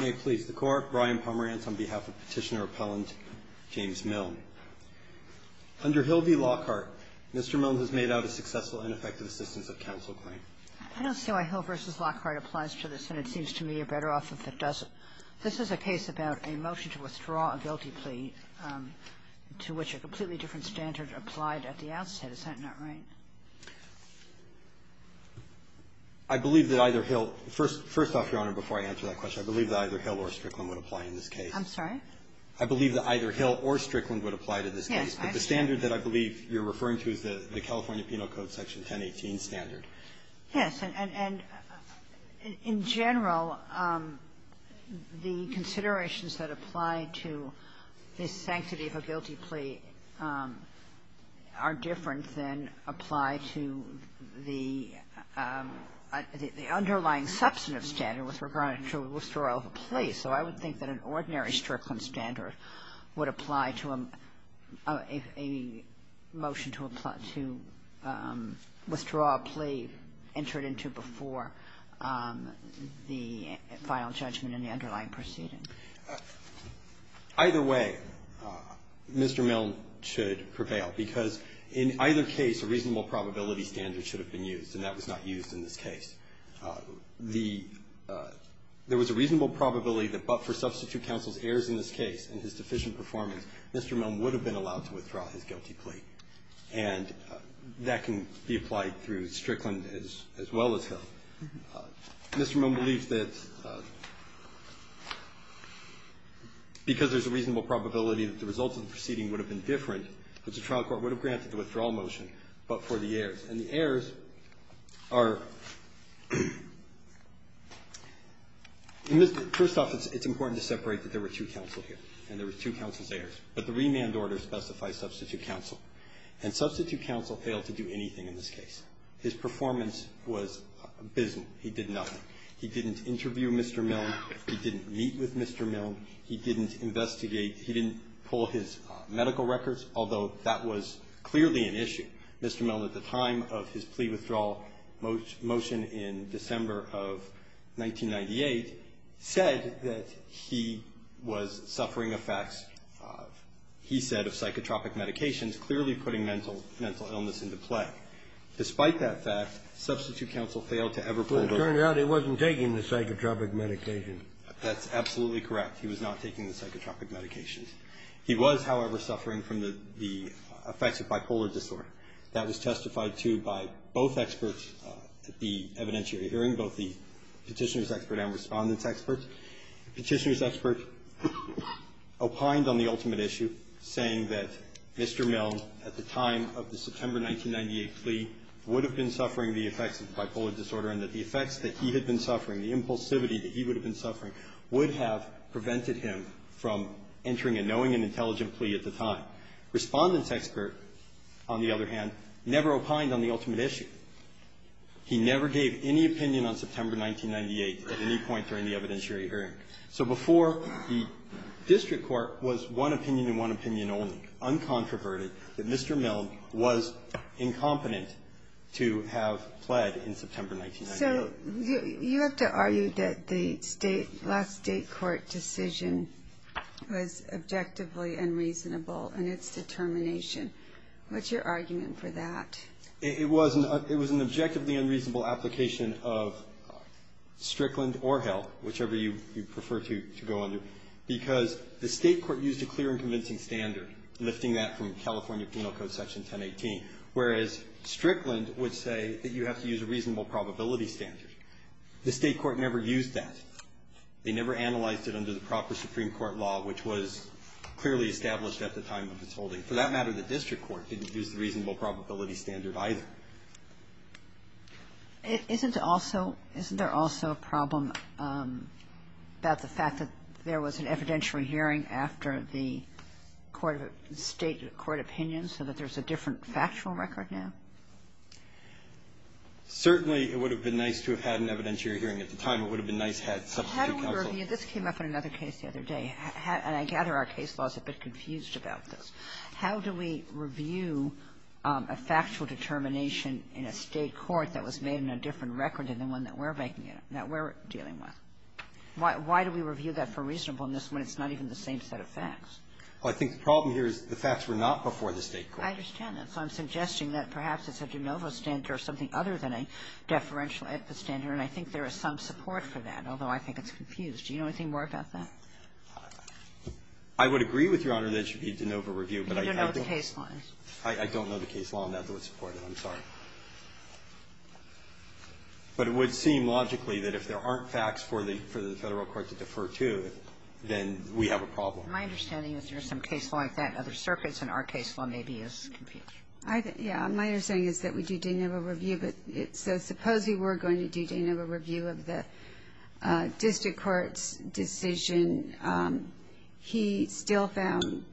May it please the Court, Brian Pomerantz on behalf of Petitioner Appellant James Milne. Under Hill v. Lockhart, Mr. Milne has made out a successful and effective assistance of counsel claim. I don't see why Hill v. Lockhart applies to this, and it seems to me you're better off if it doesn't. This is a case about a motion to withdraw a guilty plea to which a completely different standard applied at the outset. Is that not right? I believe that either Hill — first off, Your Honor, before I answer that question, I believe that either Hill or Strickland would apply in this case. I'm sorry? I believe that either Hill or Strickland would apply to this case. Yes. But the standard that I believe you're referring to is the California Penal Code Section 1018 standard. Yes. And in general, the considerations that apply to the sanctity of a guilty plea are different than apply to the underlying substantive standard with regard to withdrawal of a plea. So I would think that an ordinary Strickland standard would apply to a motion to withdraw a plea entered into before the final judgment in the underlying proceeding. Either way, Mr. Milne should prevail, because in either case, a reasonable probability standard should have been used, and that was not used in this case. There was a reasonable probability that but for substitute counsel's errors in this case and his deficient performance, Mr. Milne would have been allowed to withdraw his guilty plea to Strickland as well as Hill. Mr. Milne believes that because there's a reasonable probability that the results of the proceeding would have been different, that the trial court would have granted the withdrawal motion but for the errors. And the errors are, first off, it's important to separate that there were two counsel here and there were two counsel's errors. But the remand order specifies substitute counsel. And substitute counsel failed to do anything in this case. His performance was abysmal. He did nothing. He didn't interview Mr. Milne. He didn't meet with Mr. Milne. He didn't investigate. He didn't pull his medical records, although that was clearly an issue. Mr. Milne at the time of his plea withdrawal motion in December of 1998 said that he was suffering effects, he said, of psychotropic medications, clearly putting mental illness into play. Despite that fact, substitute counsel failed to ever pull those. But it turned out he wasn't taking the psychotropic medication. That's absolutely correct. He was not taking the psychotropic medications. He was, however, suffering from the effects of bipolar disorder. That was testified to by both experts at the evidentiary hearing, both the Petitioner's expert and Respondent's expert. Petitioner's expert opined on the ultimate issue, saying that Mr. Milne, at the time of the September 1998 plea, would have been suffering the effects of bipolar disorder and that the effects that he had been suffering, the impulsivity that he would have been suffering, would have prevented him from entering a knowing and intelligent plea at the time. Respondent's expert, on the other hand, never opined on the ultimate issue. He never gave any opinion on September 1998 at any point during the evidentiary hearing. So before, the district court was one opinion and one opinion only, uncontroverted, that Mr. Milne was incompetent to have pled in September 1998. So you have to argue that the last state court decision was objectively unreasonable in its determination. What's your argument for that? It was an objectively unreasonable application of Strickland or Hill, whichever you prefer to go under, because the state court used a clear and convincing standard, lifting that from California Penal Code Section 1018, whereas Strickland would say that you have to use a reasonable probability standard. The state court never used that. They never analyzed it under the proper Supreme Court law, which was clearly established at the time of its holding. For that matter, the district court didn't use the reasonable probability standard either. Isn't also – isn't there also a problem about the fact that there was an evidentiary hearing after the state court opinion so that there's a different factual record now? Certainly, it would have been nice to have had an evidentiary hearing at the time. It would have been nice to have had substitute counsel. How do we review – this came up in another case the other day, and I gather our case law is a bit confused about this. How do we review a factual determination in a state court that was made in a different record than the one that we're making – that we're dealing with? Why do we review that for reasonableness when it's not even the same set of facts? Well, I think the problem here is the facts were not before the state court. I understand that. So I'm suggesting that perhaps it's a de novo standard or something other than a deferential standard, and I think there is some support for that, although I think it's confused. Do you know anything more about that? I would agree with Your Honor that it should be a de novo review, but I don't know the case law. I don't know the case law on that that would support it. I'm sorry. But it would seem logically that if there aren't facts for the Federal court to defer to, then we have a problem. My understanding is there's some case law like that in other circuits, and our case law maybe is confused. My understanding is that we do de novo review. So suppose we were going to do de novo review of the district court's decision. He still found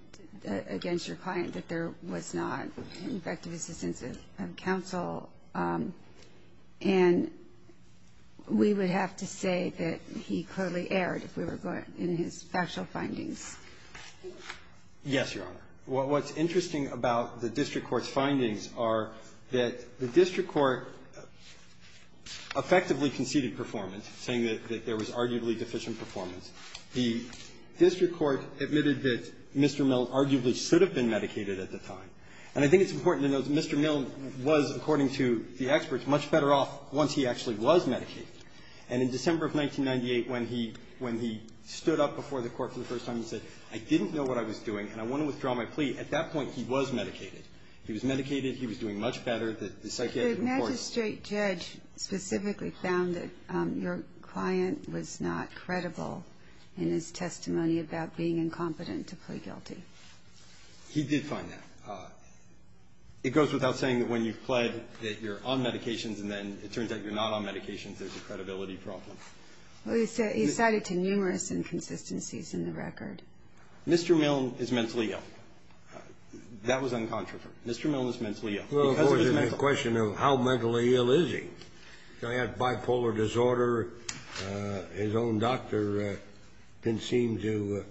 against your client that there was not an effective assistance of counsel. And we would have to say that he clearly erred if we were going in his factual findings. Yes, Your Honor. Well, what's interesting about the district court's findings are that the district court effectively conceded performance, saying that there was arguably deficient performance. The district court admitted that Mr. Milne arguably should have been medicated at the time. And I think it's important to note that Mr. Milne was, according to the experts, much better off once he actually was medicated. And in December of 1998, when he stood up before the court for the first time and said, I didn't know what I was doing, and I want to withdraw my plea, at that point he was medicated. He was medicated. He was doing much better. The psychiatric report. The magistrate judge specifically found that your client was not credible in his testimony about being incompetent to plead guilty. He did find that. It goes without saying that when you've pled that you're on medications, and then it turns out you're not on medications, there's a credibility problem. He's cited to numerous inconsistencies in the record. Mr. Milne is mentally ill. That was uncontroversial. Mr. Milne is mentally ill. Well, of course, it's a question of how mentally ill is he. He had bipolar disorder. His own doctor didn't seem to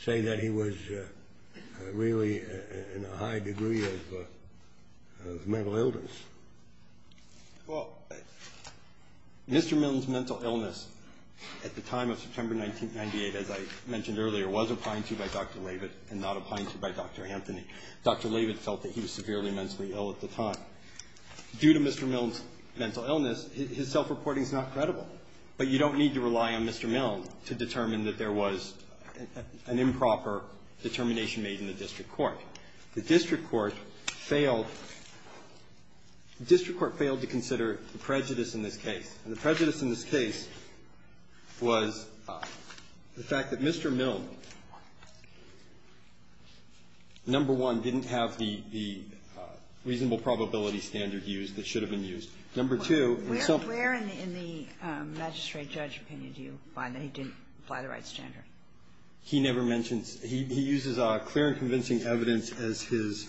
say that he was really in a high degree of mental illness. Well, Mr. Milne's mental illness at the time of September 1998, as I mentioned earlier, was opined to by Dr. Lavitt and not opined to by Dr. Anthony. Dr. Lavitt felt that he was severely mentally ill at the time. Due to Mr. Milne's mental illness, his self-reporting is not credible. But you don't need to rely on Mr. Milne to determine that there was an improper determination made in the district court. The district court failed to consider the prejudice in this case. And the prejudice in this case was the fact that Mr. Milne, number one, didn't have the reasonable probability standard used that should have been used. Number two, in the self- Where in the magistrate judge opinion do you find that he didn't apply the right standard? He never mentions. He uses clear and convincing evidence as his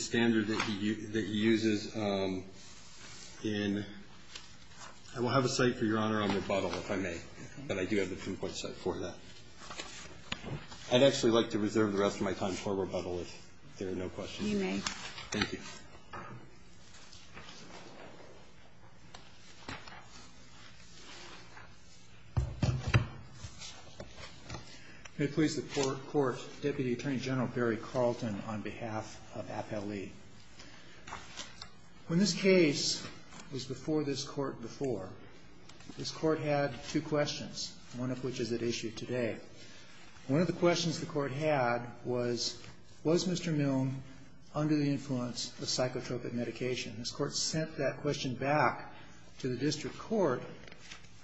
standard that he uses in. I will have a cite for Your Honor on rebuttal if I may. But I do have the pinpoint cite for that. I'd actually like to reserve the rest of my time for rebuttal if there are no questions. You may. Thank you. May it please the court, Deputy Attorney General Barry Carlton on behalf of Appellee. When this case was before this court before, this court had two questions. One of which is at issue today. One of the questions the court had was, was Mr. Milne under the influence of psychotropic medication? This court sent that question back to the district court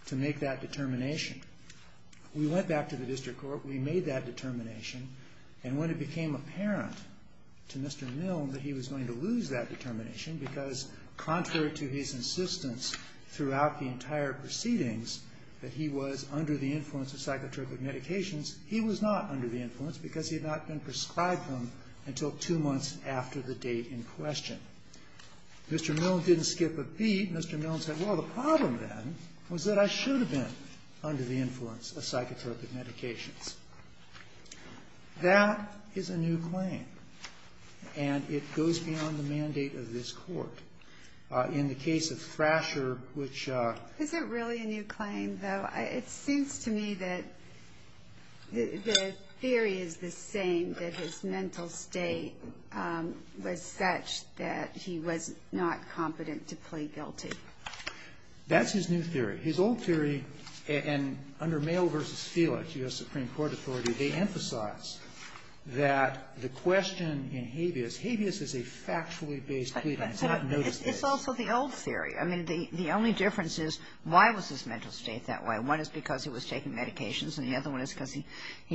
to make that determination. We went back to the district court. We made that determination. And when it became apparent to Mr. Milne that he was going to lose that determination because contrary to his insistence throughout the entire proceedings that he was under the influence of psychotropic medications, he was not under the influence because he had not been prescribed them until two months after the date in question. Mr. Milne didn't skip a beat. Mr. Milne said, well, the problem then was that I should have been under the influence of psychotropic medications. That is a new claim. And it goes beyond the mandate of this court. In the case of Thrasher, which ‑‑ Is it really a new claim, though? It seems to me that the theory is the same, that his mental state was such that he was not competent to plead guilty. That's his new theory. His old theory, and under Male v. Felix, U.S. Supreme Court authority, they emphasize that the question in habeas, habeas is a factually based plea. It's not a notice case. It's also the old theory. I mean, the only difference is why was his mental state that way. One is because he was taking medications, and the other one is because he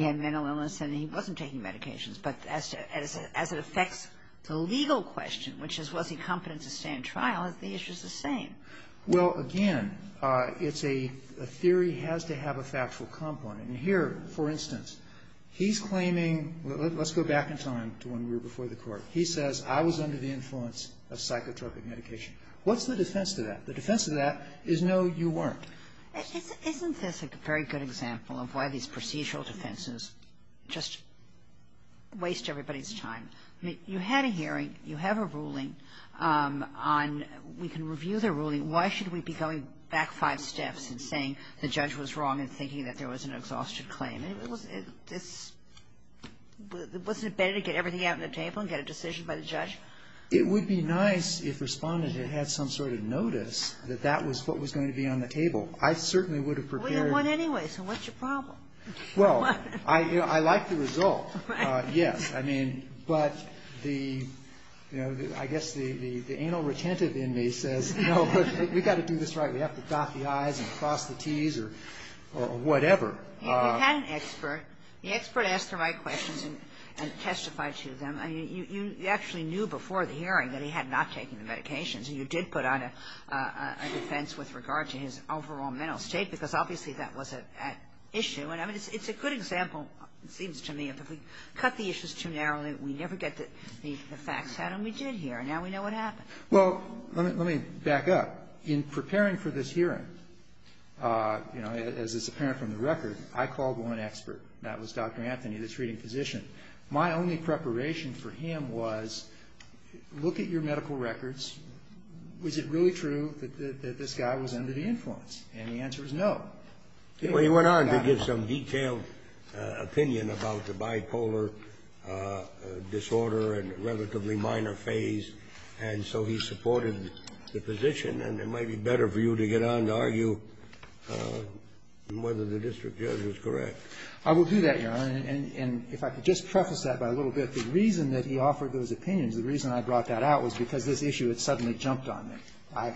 had mental illness and he wasn't taking medications. But as it affects the legal question, which is was he competent to stand trial, the issue is the same. Well, again, it's a theory has to have a factual component. And here, for instance, he's claiming ‑‑ let's go back in time to when we were before the court. He says, I was under the influence of psychotropic medication. What's the defense to that? The defense to that is no, you weren't. Isn't this a very good example of why these procedural defenses just waste everybody's time? You had a hearing. You have a ruling on ‑‑ we can review the ruling. Why should we be going back five steps and saying the judge was wrong and thinking that there was an exhausted claim? Wasn't it better to get everything out on the table and get a decision by the judge? It would be nice if Respondent had had some sort of notice that that was what was going to be on the table. I certainly would have prepared ‑‑ Well, you won anyway, so what's your problem? Well, I like the result. Right. Yes. I mean, but the, you know, I guess the anal retentive in me says, no, we've got to do this right. We have to dot the I's and cross the T's or whatever. He had an expert. The expert asked the right questions and testified to them. You actually knew before the hearing that he had not taken the medications. And you did put on a defense with regard to his overall mental state, because obviously that was an issue. And I mean, it's a good example, it seems to me, if we cut the issues too narrowly, we never get the facts out. And we did here, and now we know what happened. Well, let me back up. In preparing for this hearing, you know, as is apparent from the record, I called one expert. That was Dr. Anthony, this reading physician. My only preparation for him was, look at your medical records. Was it really true that this guy was under the influence? And the answer was no. Well, he went on to give some detailed opinion about the bipolar disorder and relatively minor phase. And so he supported the position. And it might be better for you to get on to argue whether the district judge was correct. I will do that, Your Honor. And if I could just preface that by a little bit, the reason that he offered those opinions, the reason I brought that out was because this issue had suddenly jumped on me. I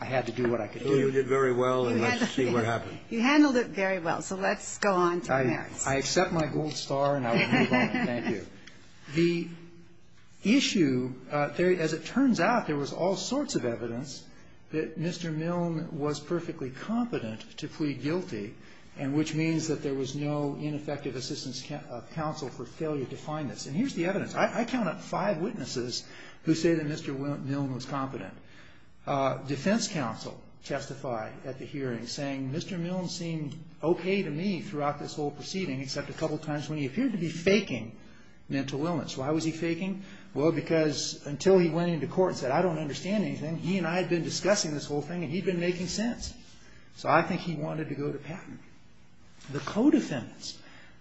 had to do what I could do. You did very well, and let's see what happened. You handled it very well. So let's go on to the merits. I accept my gold star, and I will move on. Thank you. The issue, as it turns out, there was all sorts of evidence that Mr. Milne was perfectly competent to plead guilty, and which means that there was no ineffective assistance counsel for failure to find this. And here's the evidence. I count up five witnesses who say that Mr. Milne was competent. Defense counsel testified at the hearing, saying Mr. Milne seemed okay to me throughout this whole proceeding, except a couple times when he appeared to be faking mental illness. Why was he faking? Well, because until he went into court and said, I don't understand anything, he and I had been discussing this whole thing, and he'd been making sense. So I think he wanted to go to patent. The co-defendants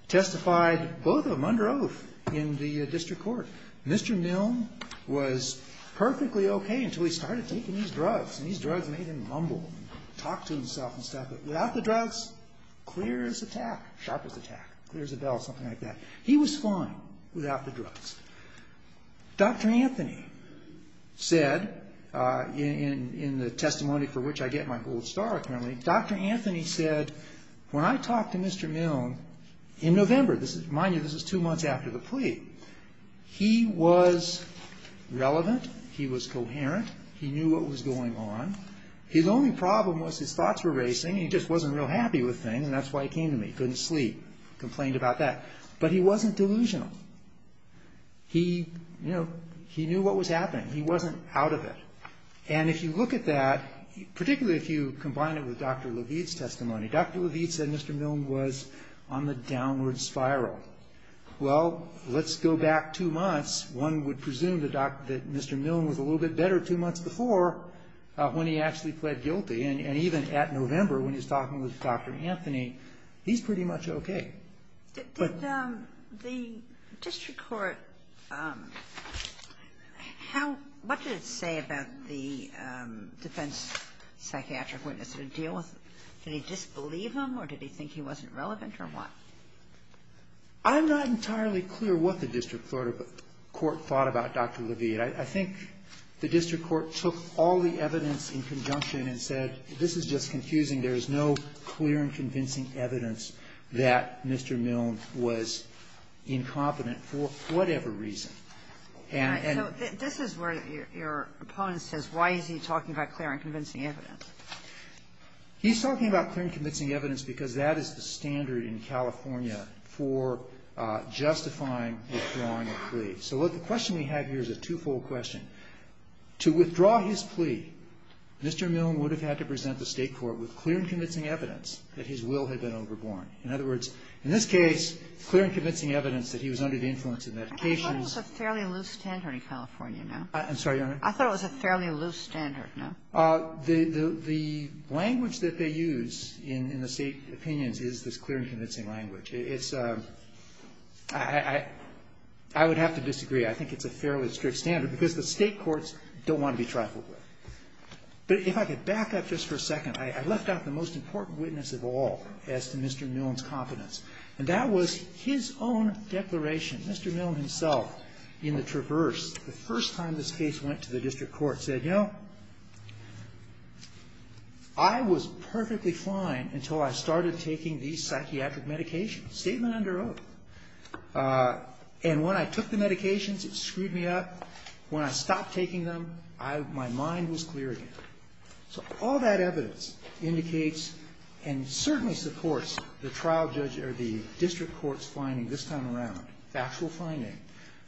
testified, both of them under oath, in the district court. Mr. Milne was perfectly okay until he started taking these drugs, and these drugs made him mumble and talk to himself and stuff. But without the drugs, clear as a tack, sharp as a tack, clear as a bell, something like that. He was fine without the drugs. Dr. Anthony said, in the testimony for which I get my gold star, apparently, Dr. Anthony said, when I talked to Mr. Milne in November, mind you, this is two months after the plea, he was relevant, he was coherent, he knew what was going on. His only problem was his thoughts were racing, and he just wasn't real happy with things, and that's why he came to me. Couldn't sleep. Complained about that. But he wasn't delusional. He, you know, he knew what was happening. He wasn't out of it. And if you look at that, particularly if you combine it with Dr. Levitt's testimony, Dr. Levitt said Mr. Milne was on the downward spiral. Well, let's go back two months. One would presume that Mr. Milne was a little bit better two months before when he actually pled guilty, and even at November, when he's talking with Dr. Anthony, he's pretty much okay. Did the district court, how, what did it say about the defense psychiatric witness to deal with, did he disbelieve him, or did he think he wasn't relevant, or what? I'm not entirely clear what the district court thought about Dr. Levitt. I think the district court took all the evidence in conjunction and said, this is just Mr. Milne was incompetent for whatever reason. And so this is where your opponent says, why is he talking about clear and convincing evidence? He's talking about clear and convincing evidence because that is the standard in California for justifying withdrawing a plea. So the question we have here is a twofold question. To withdraw his plea, Mr. Milne would have had to present the State court with clear and convincing evidence that his will had been overborne. In other words, in this case, clear and convincing evidence that he was under the influence of medications. I thought it was a fairly loose standard in California, no? I'm sorry, Your Honor? I thought it was a fairly loose standard, no? The language that they use in the State opinions is this clear and convincing language. It's a, I would have to disagree. I think it's a fairly strict standard because the State courts don't want to be trifled with. But if I could back up just for a second, I left out the most important witness of all as to Mr. Milne's competence. And that was his own declaration. Mr. Milne himself, in the traverse, the first time this case went to the district court, said, you know, I was perfectly fine until I started taking these psychiatric medications. Statement under oath. And when I took the medications, it screwed me up. When I stopped taking them, I, my mind was clear again. So all that evidence indicates and certainly supports the trial judge or the district court's finding this time around, factual finding,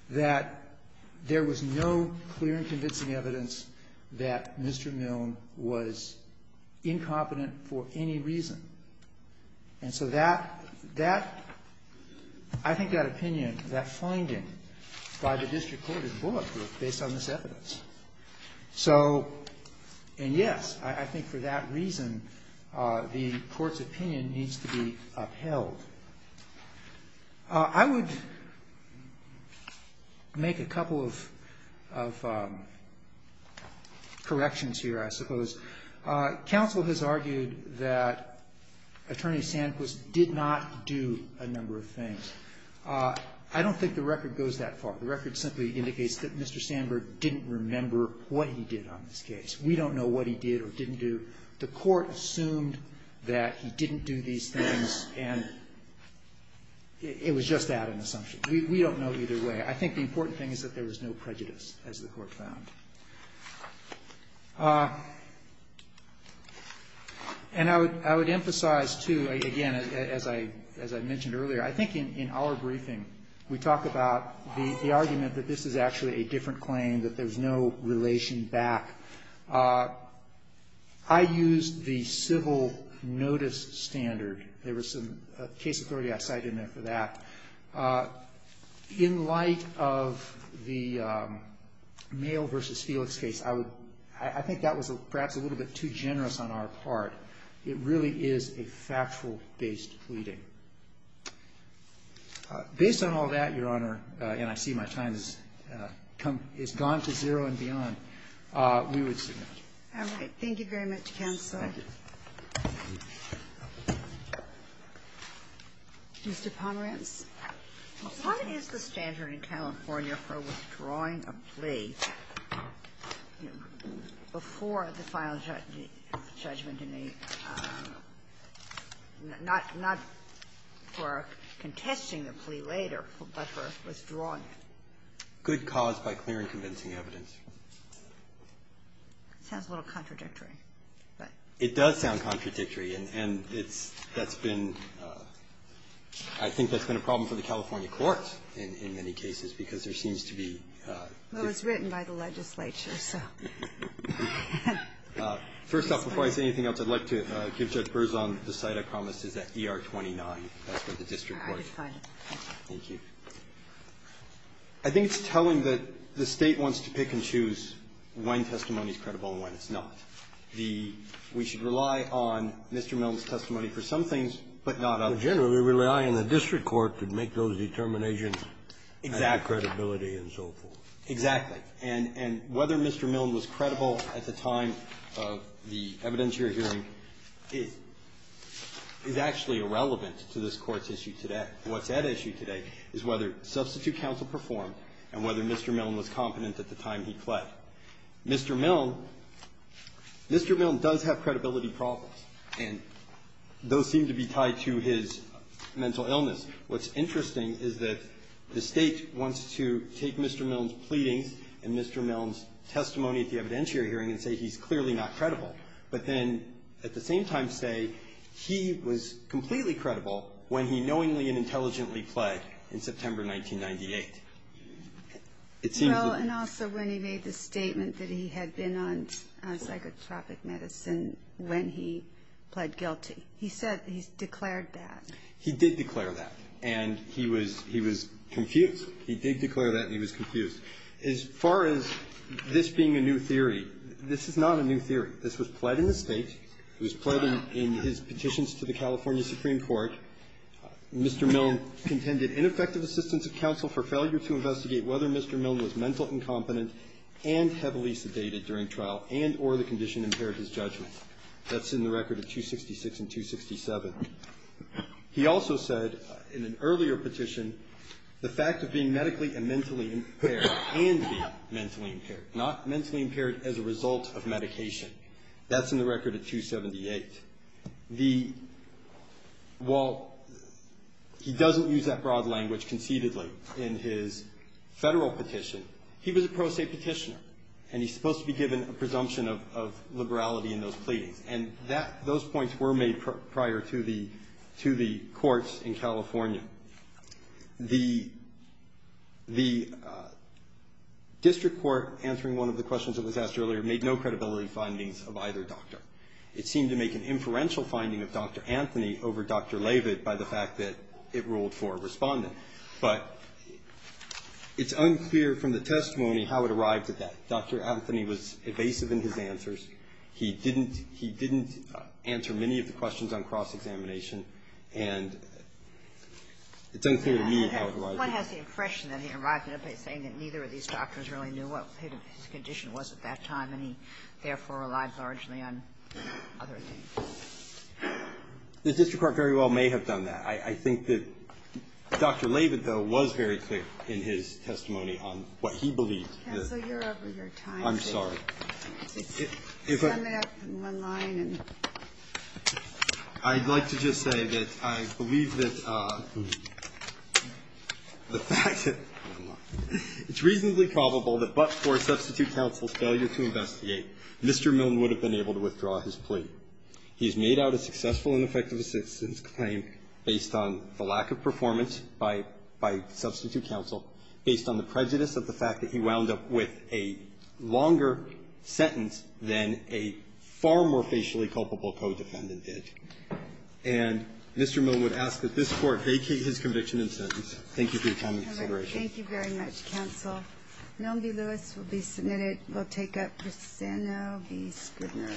that there was no clear and convincing evidence that Mr. Milne was incompetent for any reason. And so that, that, I think that opinion, that finding by the district court is bullet proof based on this evidence. So, and yes, I think for that reason, the court's opinion needs to be upheld. I would make a couple of, of corrections here, I suppose. Council has argued that Attorney Sandberg did not do a number of things. I don't think the record goes that far. The record simply indicates that Mr. Sandberg didn't remember what he did on this case. We don't know what he did or didn't do. The court assumed that he didn't do these things, and it was just that, an assumption. We don't know either way. I think the important thing is that there was no prejudice, as the court found. And I would, I would emphasize, too, again, as I, as I mentioned earlier, I think in, in our briefing, we talk about the, the argument that this is actually a different claim, that there's no relation back. I used the civil notice standard. There was some case authority I cited in there for that. In light of the Mail v. Felix case, I would, I think that was perhaps a little bit too generous on our part. It really is a factual-based pleading. Based on all that, Your Honor, and I see my time has come, has gone to zero and beyond, we would submit. All right. Thank you very much, counsel. Thank you. Mr. Pomerantz. What is the standard in California for withdrawing a plea before the final judgment in a, not, not for contesting the plea later, but for withdrawing it? Good cause by clear and convincing evidence. Sounds a little contradictory, but. It does sound contradictory. And it's, that's been, I think that's been a problem for the California court in, in many cases because there seems to be. Well, it's written by the legislature, so. First off, before I say anything else, I'd like to give Judge Berzon the site I promised is at ER 29. That's where the district court is. All right. Thank you. I think it's telling that the State wants to pick and choose when testimony is credible and when it's not. The, we should rely on Mr. Milne's testimony for some things, but not others. Generally rely on the district court to make those determinations. Exactly. And the credibility and so forth. Exactly. And, and whether Mr. Milne was credible at the time of the evidence you're hearing is, is actually irrelevant to this Court's issue today. What's at issue today is whether substitute counsel performed and whether Mr. Milne was competent at the time he pled. Mr. Milne, Mr. Milne does have credibility problems, and those seem to be tied to his mental illness. What's interesting is that the State wants to take Mr. Milne's pleadings and Mr. Milne's testimony at the evidence you're hearing and say he's clearly not credible, but then at the same time say he was completely credible when he knowingly and intelligently pled in September 1998. Well, and also when he made the statement that he had been on psychotropic medicine when he pled guilty. He said, he declared that. He did declare that, and he was, he was confused. He did declare that, and he was confused. As far as this being a new theory, this is not a new theory. This was pled in the State. It was pled in his petitions to the California Supreme Court. Mr. Milne contended ineffective assistance of counsel for failure to investigate whether Mr. Milne was mental incompetent and heavily sedated during trial and or the condition impaired his judgment. That's in the record of 266 and 267. He also said in an earlier petition the fact of being medically and mentally impaired and being mentally impaired, not mentally impaired as a result of medication. That's in the record of 278. The, well, he doesn't use that broad language conceitedly in his federal petition. He was a pro se petitioner, and he's supposed to be given a presumption of, of liberality in those pleadings. And that, those points were made prior to the, to the courts in California. The, the district court answering one of the questions that was asked earlier made no credibility findings of either doctor. It seemed to make an inferential finding of Dr. Anthony over Dr. Leavitt by the fact that it ruled for a respondent. But it's unclear from the testimony how it arrived at that. Dr. Anthony was evasive in his answers. He didn't, he didn't answer many of the questions on cross-examination. And it's unclear to me how it arrived at that. What has the impression that he arrived at it by saying that neither of these doctors really knew what his condition was at that time, and he therefore relied largely on other things? The district court very well may have done that. I, I think that Dr. Leavitt, though, was very quick in his testimony on what he believed. Counsel, you're over your time. I'm sorry. I'd like to just say that I believe that the fact that it's reasonably probable that but for substitute counsel's failure to investigate, Mr. Milne would have been able to withdraw his plea. He's made out a successful and effective assistance claim based on the lack of performance by, by substitute counsel based on the prejudice of the fact that he wound up with a longer sentence than a far more facially culpable co-defendant did. And Mr. Milne would ask that this Court vacate his conviction and sentence. Thank you for your time and consideration. Thank you very much, counsel. Milne v. Lewis will be submitted. We'll take up Bristano v. Scribner.